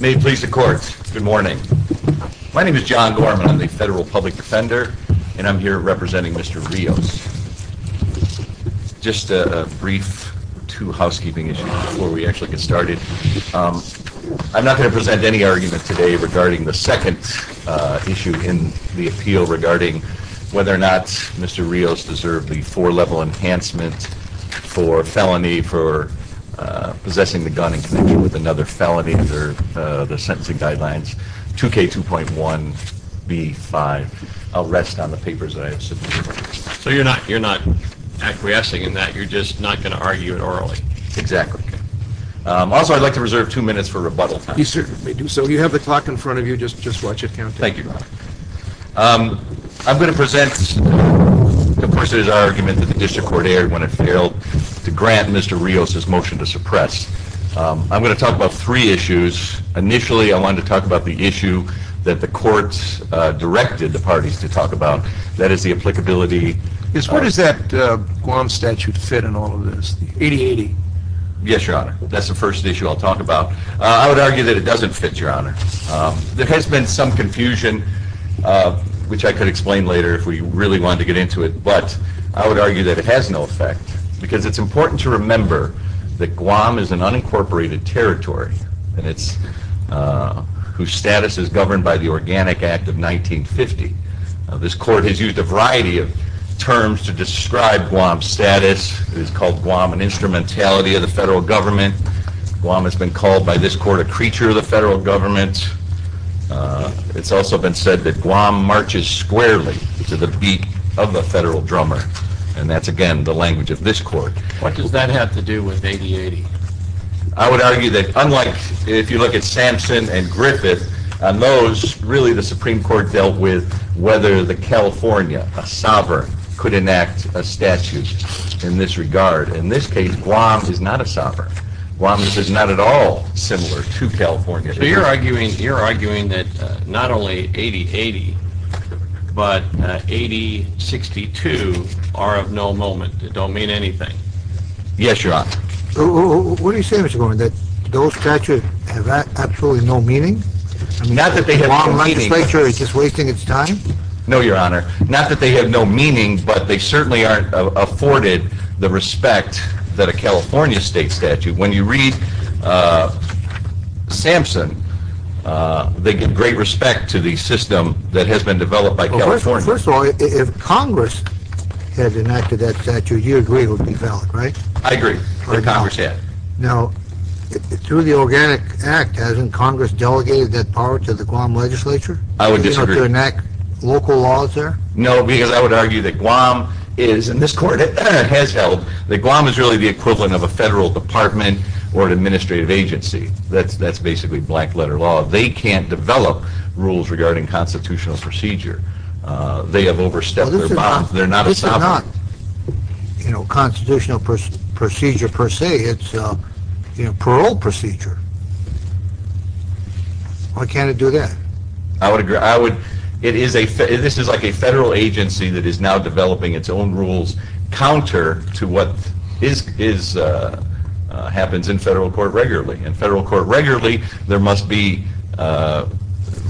May it please the Court, good morning. My name is John Gorman, I'm the Federal Public Defender, and I'm here representing Mr. Rios. Just a brief two housekeeping issues before we actually get started. I'm not going to present any argument today regarding the second issue in the appeal regarding whether or not Mr. Rios deserved the four-level enhancement for felony for possessing the gun in connection with another felony under the sentencing guidelines, 2K2.1B5. I'll rest on the papers that I have submitted. So you're not acquiescing in that, you're just not going to argue it orally? Exactly. Also I'd like to reserve two minutes for rebuttal. You certainly may do so. You have the clock in front of you, just watch it count. Thank you, Your Honor. I'm going to present the person's argument that the District Court erred when it failed to grant Mr. Rios' motion to suppress. I'm going to talk about three issues. Initially I wanted to talk about the issue that the courts directed the parties to talk about, that is the applicability. What does that Guam statute fit in all of this, 80-80? Yes, Your Honor. That's the first issue I'll talk about. I would argue that it doesn't fit, Your Honor. There has been some confusion, which I could explain later if we really wanted to get into it, but I would argue that it has no effect because it's important to remember that Guam is an unincorporated territory whose status is governed by the Organic Act of 1950. This court has used a variety of terms to describe Guam's status. It has called Guam an instrumentality of the federal government. Guam has been called by this court a creature of the federal government. It's also been said that Guam marches squarely to the beat of a federal drummer, and that's again the language of this court. What does that have to do with 80-80? I would argue that, unlike if you look at Sampson and Griffith, on those, really the Supreme Court dealt with whether the California, a sovereign, could enact a statute in this regard. In this case, Guam is not a sovereign. Guam is not at all similar to California. So you're arguing that not only 80-80, but 80-62 are of no moment. They don't mean anything. Yes, Your Honor. What are you saying, Mr. Gorman, that those statutes have absolutely no meaning? Not that they have no meaning. The legislature is just wasting its time? No, Your Honor. Not that they have no meaning, but they certainly aren't afforded the respect that a California state statute. When you read Sampson, they get great respect to the system that has been developed by California. First of all, if Congress has enacted that statute, you agree it would be valid, right? I agree that Congress had. Now, through the Organic Act, hasn't Congress delegated that power to the Guam legislature? I would disagree. To enact local laws there? No, because I would argue that Guam is, and this court has held, that Guam is really the equivalent of a federal department or an administrative agency. That's basically black-letter law. They can't develop rules regarding constitutional procedure. They have overstepped their bounds. This is not constitutional procedure per se. It's a parole procedure. Why can't it do that? This is like a federal agency that is now developing its own rules counter to what happens in federal court regularly. In federal court regularly, there must be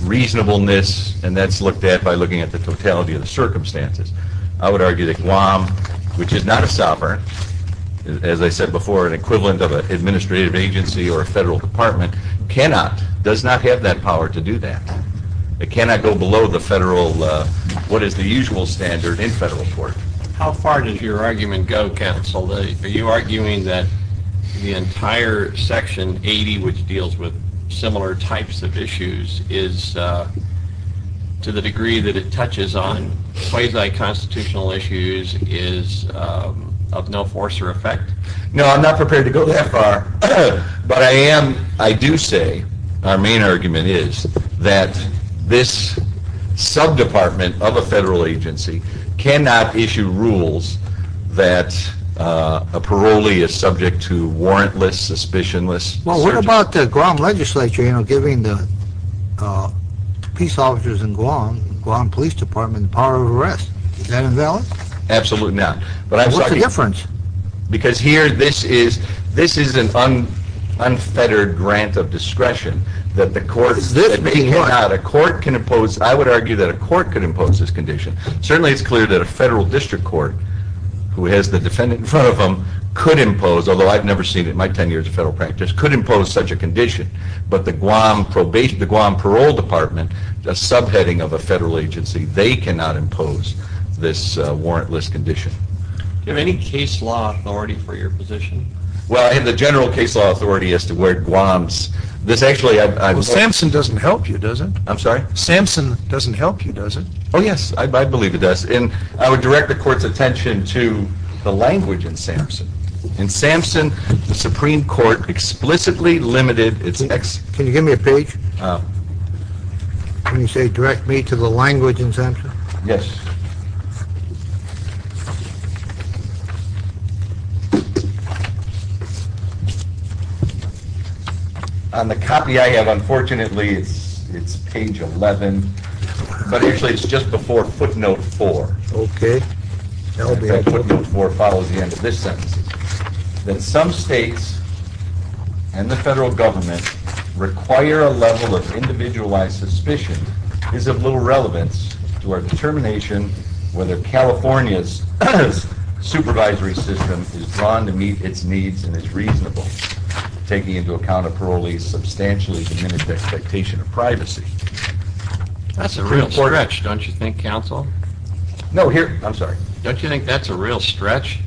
reasonableness, and that's looked at by looking at the totality of the circumstances. I would argue that Guam, which is not a sovereign, as I said before, an equivalent of an administrative agency or a federal department, cannot, does not have that power to do that. It cannot go below the federal, what is the usual standard in federal court. How far does your argument go, counsel? Are you arguing that the entire Section 80, which deals with similar types of issues, is, to the degree that it touches on quasi-constitutional issues, is of no force or effect? No, I'm not prepared to go that far. But I am, I do say, our main argument is that this sub-department of a federal agency cannot issue rules that a parolee is subject to warrantless, suspicionless... Well, what about the Guam legislature, you know, giving the peace officers in Guam, Guam Police Department, the power of arrest? Is that invalid? Absolutely not. What's the difference? Because here, this is, this is an unfettered grant of discretion that the court... Is this the point? A court can impose, I would argue that a court could impose this condition. Certainly it's clear that a federal district court, who has the defendant in front of them, could impose, although I've never seen it in my ten years of federal practice, could impose such a condition. But the Guam probation, the Guam Parole Department, a sub-heading of a federal agency, they cannot impose this warrantless condition. Do you have any case law authority for your position? Well, I have the general case law authority as to where Guam's, this actually... Well, Samson doesn't help you, does it? I'm sorry? Samson doesn't help you, does it? Oh, yes, I believe it does. And I would direct the court's attention to the language in Samson. In Samson, the Supreme Court explicitly limited its... Can you give me a page? Oh. When you say direct me to the language in Samson? Yes. On the copy I have, unfortunately, it's page 11, but actually it's just before footnote 4. Okay. Footnote 4 follows the end of this sentence. That some states and the federal government require a level of individualized suspicion is of little relevance to our determination whether California's supervisory system is drawn to meet its needs and is reasonable, taking into account a parolee's substantially diminished expectation of privacy. That's a real stretch, don't you think, counsel? No, here, I'm sorry. Don't you think that's a real stretch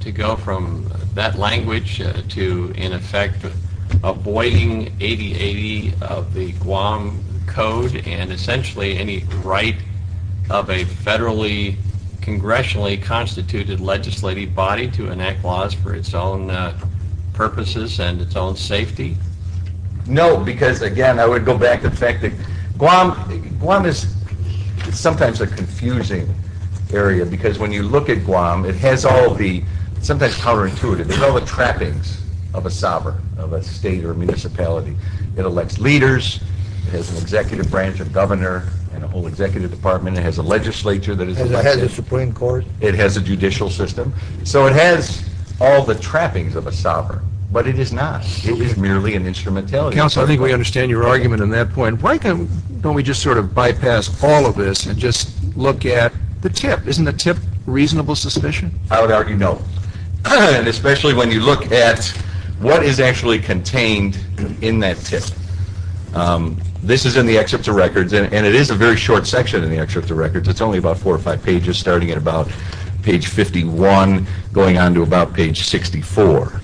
to go from that language to, in effect, avoiding 80-80 of the Guam Code and essentially any right of a federally, congressionally constituted legislative body to enact laws for its own purposes and its own safety? No, because, again, I would go back to the fact that Guam is sometimes a confusing area, because when you look at Guam, it has all the, sometimes counterintuitive, it has all the trappings of a sovereign, of a state or a municipality. It elects leaders. It has an executive branch of governor and a whole executive department. It has a legislature. It has a Supreme Court. It has a judicial system. So it has all the trappings of a sovereign, but it is not. It is merely an instrumentality. Counsel, I think we understand your argument on that point. Why don't we just sort of bypass all of this and just look at the tip? Isn't the tip reasonable suspicion? I would argue no, especially when you look at what is actually contained in that tip. This is in the excerpt to records, and it is a very short section in the excerpt to records. It is only about four or five pages, starting at about page 51, going on to about page 64.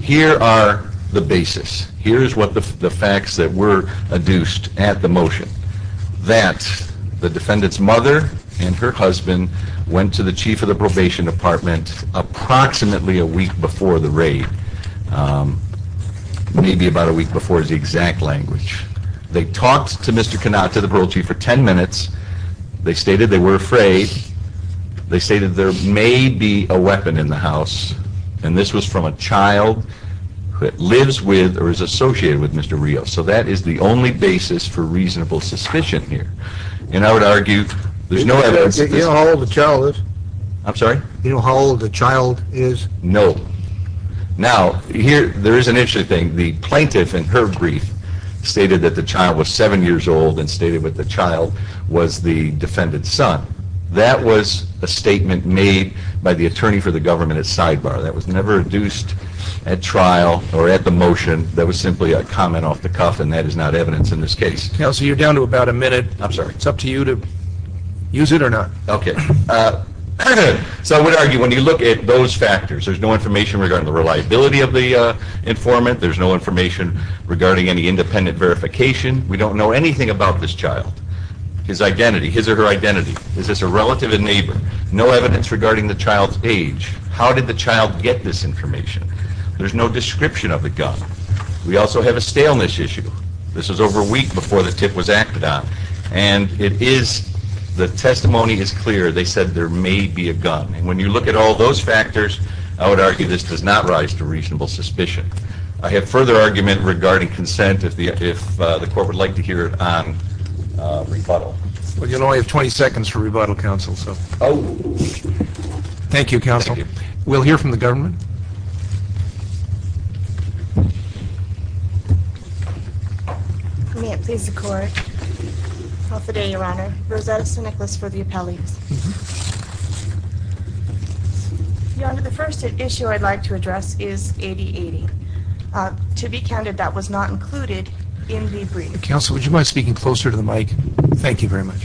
Here are the basis. Here is what the facts that were adduced at the motion. That the defendant's mother and her husband went to the chief of the probation department approximately a week before the raid. Maybe about a week before is the exact language. They talked to Mr. Kanat, to the parole chief, for 10 minutes. They stated they were afraid. They stated there may be a weapon in the house, and this was from a child that lives with or is associated with Mr. Rios. So that is the only basis for reasonable suspicion here. And I would argue there is no evidence. Do you know how old the child is? I'm sorry? Do you know how old the child is? No. Now, there is an interesting thing. The plaintiff in her brief stated that the child was seven years old and stated that the child was the defendant's son. That was a statement made by the attorney for the government at sidebar. That was never adduced at trial or at the motion. That was simply a comment off the cuff, and that is not evidence in this case. Counsel, you're down to about a minute. I'm sorry? It's up to you to use it or not. Okay. So I would argue when you look at those factors, there's no information regarding the reliability of the informant. There's no information regarding any independent verification. We don't know anything about this child, his identity, his or her identity. Is this a relative, a neighbor? No evidence regarding the child's age. How did the child get this information? There's no description of the gun. We also have a staleness issue. This was over a week before the tip was acted on. And the testimony is clear. They said there may be a gun. And when you look at all those factors, I would argue this does not rise to reasonable suspicion. I have further argument regarding consent if the court would like to hear it on rebuttal. Well, you'll only have 20 seconds for rebuttal, counsel. We'll hear from the government. Your Honor, the first issue I'd like to address is 80-80. To be candid, that was not included in the brief. Counsel, would you mind speaking closer to the mic? Thank you very much.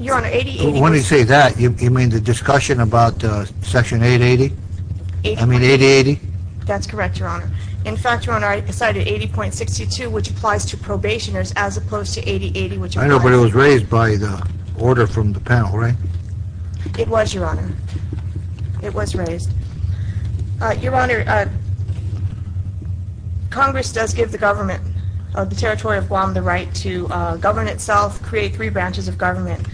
Your Honor, 80-80 was not included in the brief. Yes. Okay. Section 880? I mean 80-80? That's correct, Your Honor. In fact, Your Honor, I cited 80.62, which applies to probationers, as opposed to 80-80. I know, but it was raised by the order from the panel, right? It was, Your Honor. It was raised. Your Honor, Congress does give the government of the Territory of Guam the right to govern itself, create three branches of government.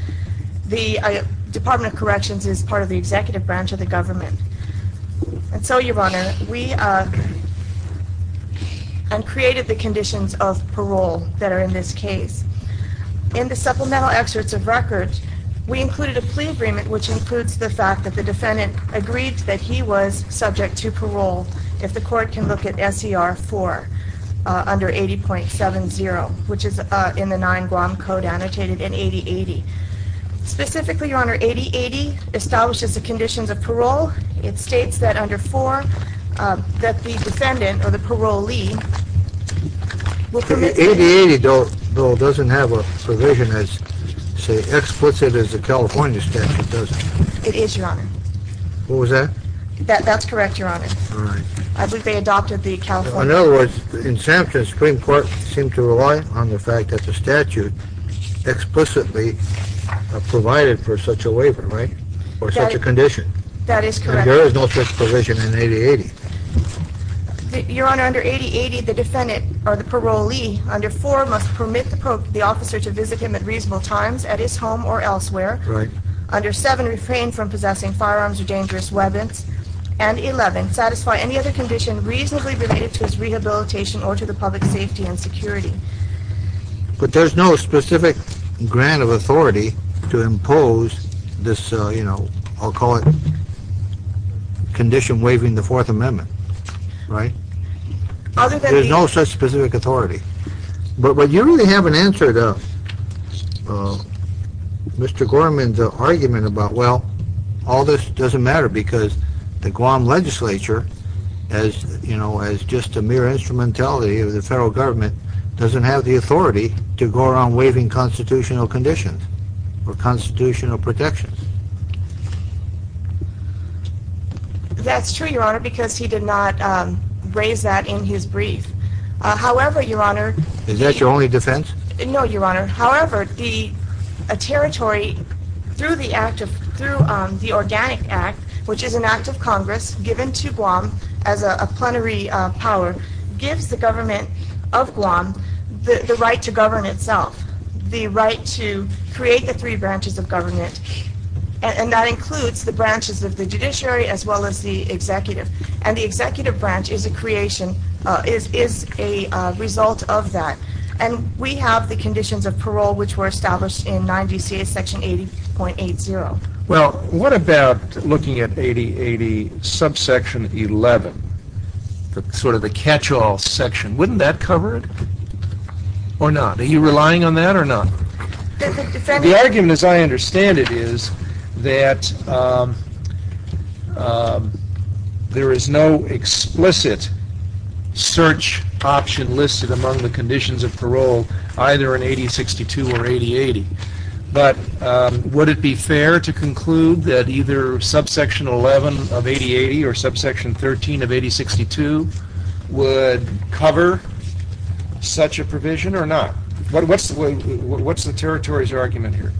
The Department of Corrections is part of the executive branch of the government. And so, Your Honor, we created the conditions of parole that are in this case. In the supplemental excerpts of records, we included a plea agreement, which includes the fact that the defendant agreed that he was subject to parole, if the court can look at SCR 4 under 80.70, which is in the 9 Guam Code annotated in 80-80. Specifically, Your Honor, 80-80 establishes the conditions of parole. It states that under 4, that the defendant or the parolee will permit... 80-80, though, doesn't have a provision as explicit as the California statute does. It is, Your Honor. What was that? That's correct, Your Honor. I believe they adopted the California... In other words, in Sampson, the Supreme Court seemed to rely on the fact that the statute explicitly provided for such a waiver, right? Or such a condition. That is correct. There is no such provision in 80-80. Your Honor, under 80-80, the defendant or the parolee, under 4, must permit the officer to visit him at reasonable times at his home or elsewhere. Right. Under 7, refrain from possessing firearms or dangerous weapons. And 11, satisfy any other condition reasonably related to his rehabilitation or to the public's safety and security. But there's no specific grant of authority to impose this, you know, I'll call it condition waiving the Fourth Amendment, right? Other than the... There's no such specific authority. But you really haven't answered Mr. Gorman's argument about, well, all this doesn't matter because the Guam legislature, as, you know, as just a mere instrumentality of the federal government, doesn't have the authority to go around waiving constitutional conditions or constitutional protections. That's true, Your Honor, because he did not raise that in his brief. However, Your Honor... Is that your only defense? No, Your Honor. However, the territory, through the act of, through the Organic Act, which is an act of Congress given to Guam as a plenary power, gives the government of Guam the right to govern itself, the right to create the three branches of government. And that includes the branches of the judiciary as well as the executive. And the executive branch is a creation, is a result of that. And we have the conditions of parole which were established in 9 DCA section 80.80. Well, what about looking at 8080 subsection 11, sort of the catch-all section? Wouldn't that cover it or not? Are you relying on that or not? The argument, as I understand it, is that there is no explicit search option listed among the conditions of parole either in 80.62 or 80.80. But would it be fair to conclude that either subsection 11 of 80.80 or subsection 13 of 80.62 would cover such a provision or not? What's the territory's argument here?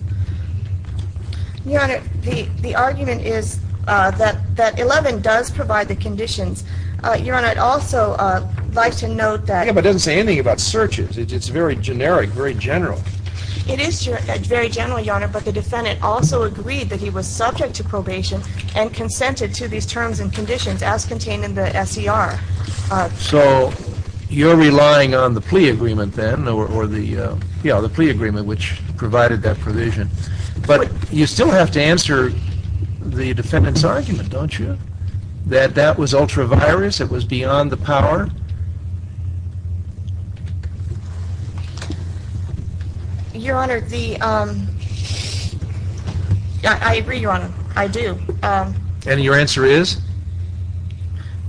Your Honor, the argument is that 11 does provide the conditions. Your Honor, I'd also like to note that… Yeah, but it doesn't say anything about searches. It's very generic, very general. It is very general, Your Honor, but the defendant also agreed that he was subject to probation and consented to these terms and conditions as contained in the SER. So, you're relying on the plea agreement then, or the plea agreement which provided that provision. But you still have to answer the defendant's argument, don't you, that that was ultra-virus, it was beyond the power? Your Honor, I agree, Your Honor, I do. And your answer is?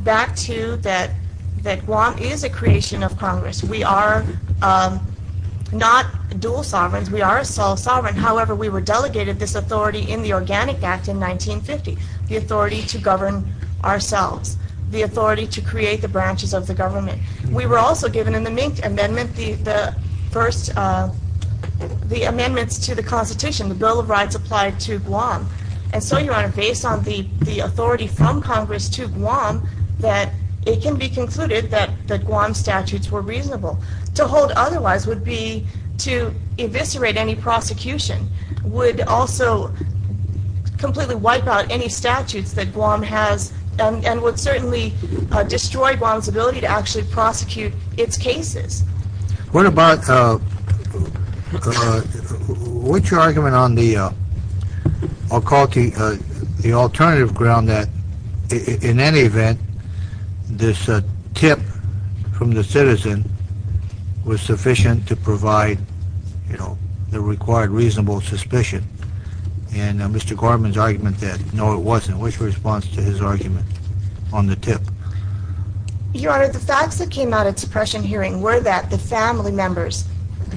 Back to that Guam is a creation of Congress. We are not dual sovereigns. We are a sole sovereign. However, we were delegated this authority in the Organic Act in 1950, the authority to govern ourselves, the authority to create the branches of the government. We were also given in the Mink Amendment the first…the amendments to the Constitution, the Bill of Rights applied to Guam. And so, Your Honor, based on the authority from Congress to Guam, that it can be concluded that Guam statutes were reasonable. To hold otherwise would be to eviscerate any prosecution, would also completely wipe out any statutes that Guam has, and would certainly destroy Guam's ability to actually prosecute its cases. What about…which argument on the alternative ground that, in any event, this tip from the citizen was sufficient to provide, you know, the required reasonable suspicion? And Mr. Gorman's argument that no, it wasn't. Which response to his argument on the tip? Your Honor, the facts that came out of the suppression hearing were that the family members,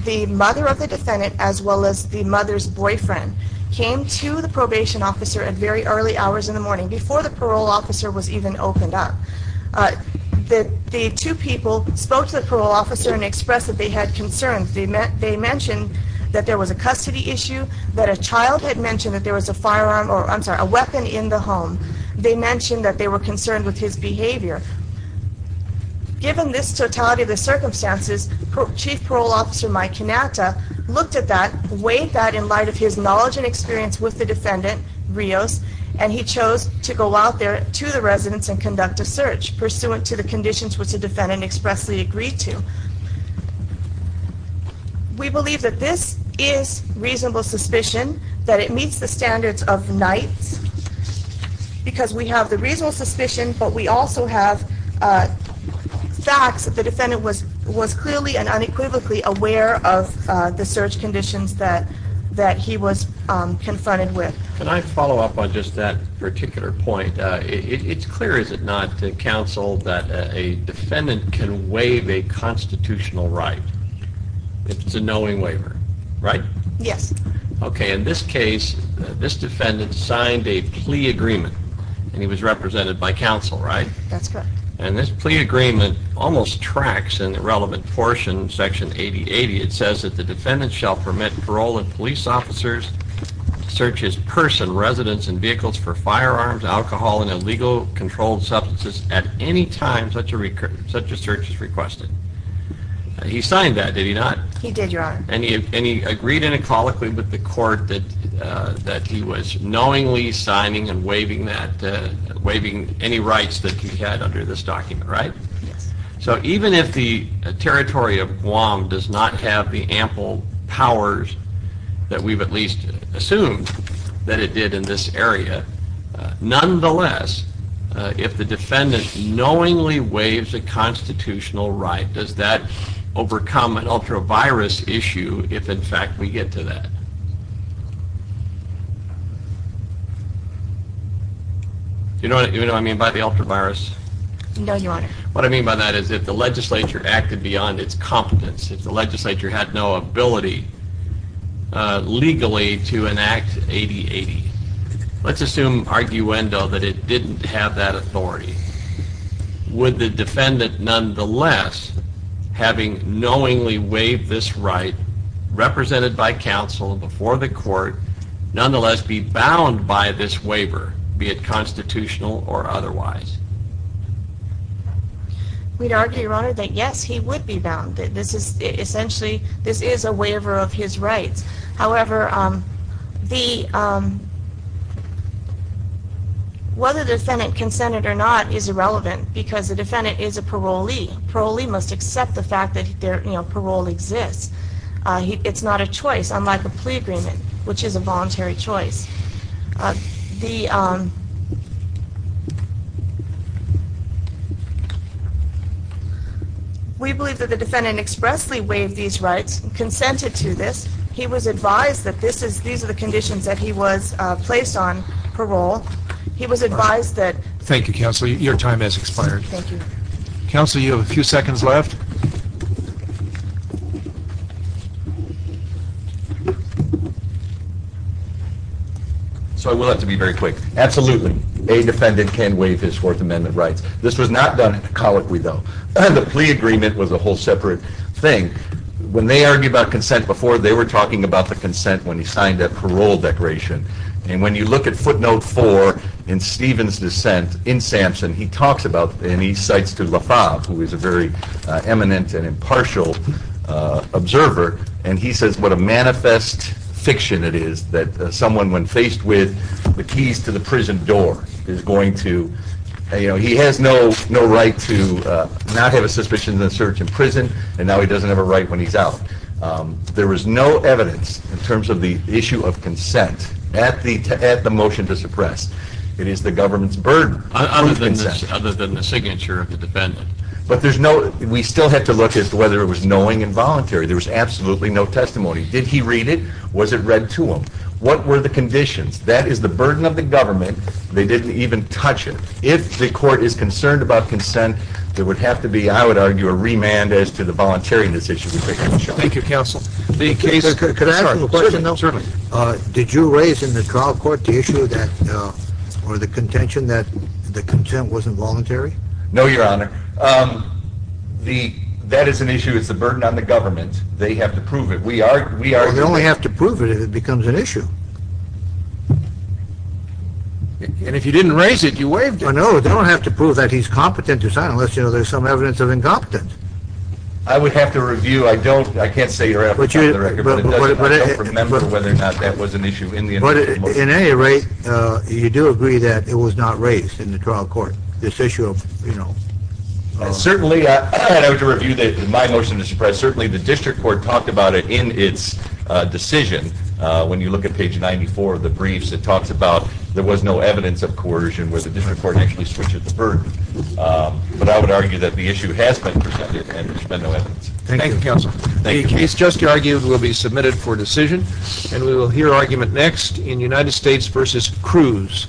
the mother of the defendant as well as the mother's boyfriend, came to the probation officer at very early hours in the morning, before the parole officer was even opened up. The two people spoke to the parole officer and expressed that they had concerns. They mentioned that there was a custody issue, that a child had mentioned that there was a firearm…I'm sorry, a weapon in the home. They mentioned that they were concerned with his behavior. Given this totality of the circumstances, Chief Parole Officer Mike Cannata looked at that, weighed that in light of his knowledge and experience with the defendant, Rios, and he chose to go out there to the residence and conduct a search, pursuant to the conditions which the defendant expressly agreed to. We believe that this is reasonable suspicion, that it meets the standards of the Knights, because we have the reasonable suspicion, but we also have facts that the defendant was clearly and unequivocally aware of the search conditions that he was confronted with. Can I follow up on just that particular point? It's clear, is it not, Counsel, that a defendant can waive a constitutional right if it's a knowing waiver, right? Yes. Okay, in this case, this defendant signed a plea agreement, and he was represented by Counsel, right? That's correct. And this plea agreement almost tracks in the relevant portion, Section 8080. It says that the defendant shall permit parole and police officers to search his purse and residence and vehicles for firearms, alcohol, and illegal controlled substances at any time such a search is requested. He signed that, did he not? He did, Your Honor. And he agreed unequivocally with the court that he was knowingly signing and waiving any rights that he had under this document, right? Yes. So even if the territory of Guam does not have the ample powers that we've at least assumed that it did in this area, nonetheless, if the defendant knowingly waives a constitutional right, does that overcome an ultra-virus issue if, in fact, we get to that? Do you know what I mean by the ultra-virus? No, Your Honor. What I mean by that is if the legislature acted beyond its competence, if the legislature had no ability legally to enact 8080, let's assume arguendo that it didn't have that authority. Would the defendant nonetheless, having knowingly waived this right represented by Counsel before the court, nonetheless be bound by this waiver, be it constitutional or otherwise? We'd argue, Your Honor, that yes, he would be bound. Essentially, this is a waiver of his rights. However, whether the defendant consented or not is irrelevant because the defendant is a parolee. Parolee must accept the fact that parole exists. It's not a choice, unlike a plea agreement, which is a voluntary choice. We believe that the defendant expressly waived these rights, consented to this. He was advised that these are the conditions that he was placed on, parole. He was advised that... Thank you, Counsel. Your time has expired. Thank you. Counsel, you have a few seconds left. So I will have to be very quick. Absolutely, a defendant can waive his Fourth Amendment rights. This was not done colloquially, though. The plea agreement was a whole separate thing. When they argued about consent before, they were talking about the consent when he signed that parole declaration. And when you look at footnote four in Stevens' dissent in Sampson, he talks about, and he cites to LaFave, who is a very eminent and impartial observer, and he says what a manifest fiction it is that someone, when faced with the keys to the prison door, is going to... He has no right to not have a suspicion of search in prison, and now he doesn't have a right when he's out. There was no evidence in terms of the issue of consent at the motion to suppress. It is the government's burden to approve consent. Other than the signature of the defendant. But there's no... We still had to look at whether it was knowing and voluntary. There was absolutely no testimony. Did he read it? Was it read to him? What were the conditions? That is the burden of the government. They didn't even touch it. If the court is concerned about consent, there would have to be, I would argue, a remand as to the voluntariness issue. Thank you, counsel. Could I ask a question, though? Certainly. Did you raise in the trial court the issue or the contention that the consent wasn't voluntary? No, your honor. That is an issue. It's the burden on the government. They have to prove it. We are... Well, they only have to prove it if it becomes an issue. And if you didn't raise it, you waived it. I know. They don't have to prove that he's competent to sign unless there's some evidence of incompetence. I would have to review. I don't... I can't say for the record. I don't remember whether or not that was an issue in the initial motion. In any rate, you do agree that it was not raised in the trial court, this issue of, you know... Certainly, I would have to review my motion to suppress. Certainly, the district court talked about it in its decision. When you look at page 94 of the briefs, it talks about there was no evidence of coercion where the district court actually switched the burden. But I would argue that the issue has been presented and there's been no evidence. Thank you, counsel. The case just argued will be submitted for decision. And we will hear argument next in United States v. Cruz.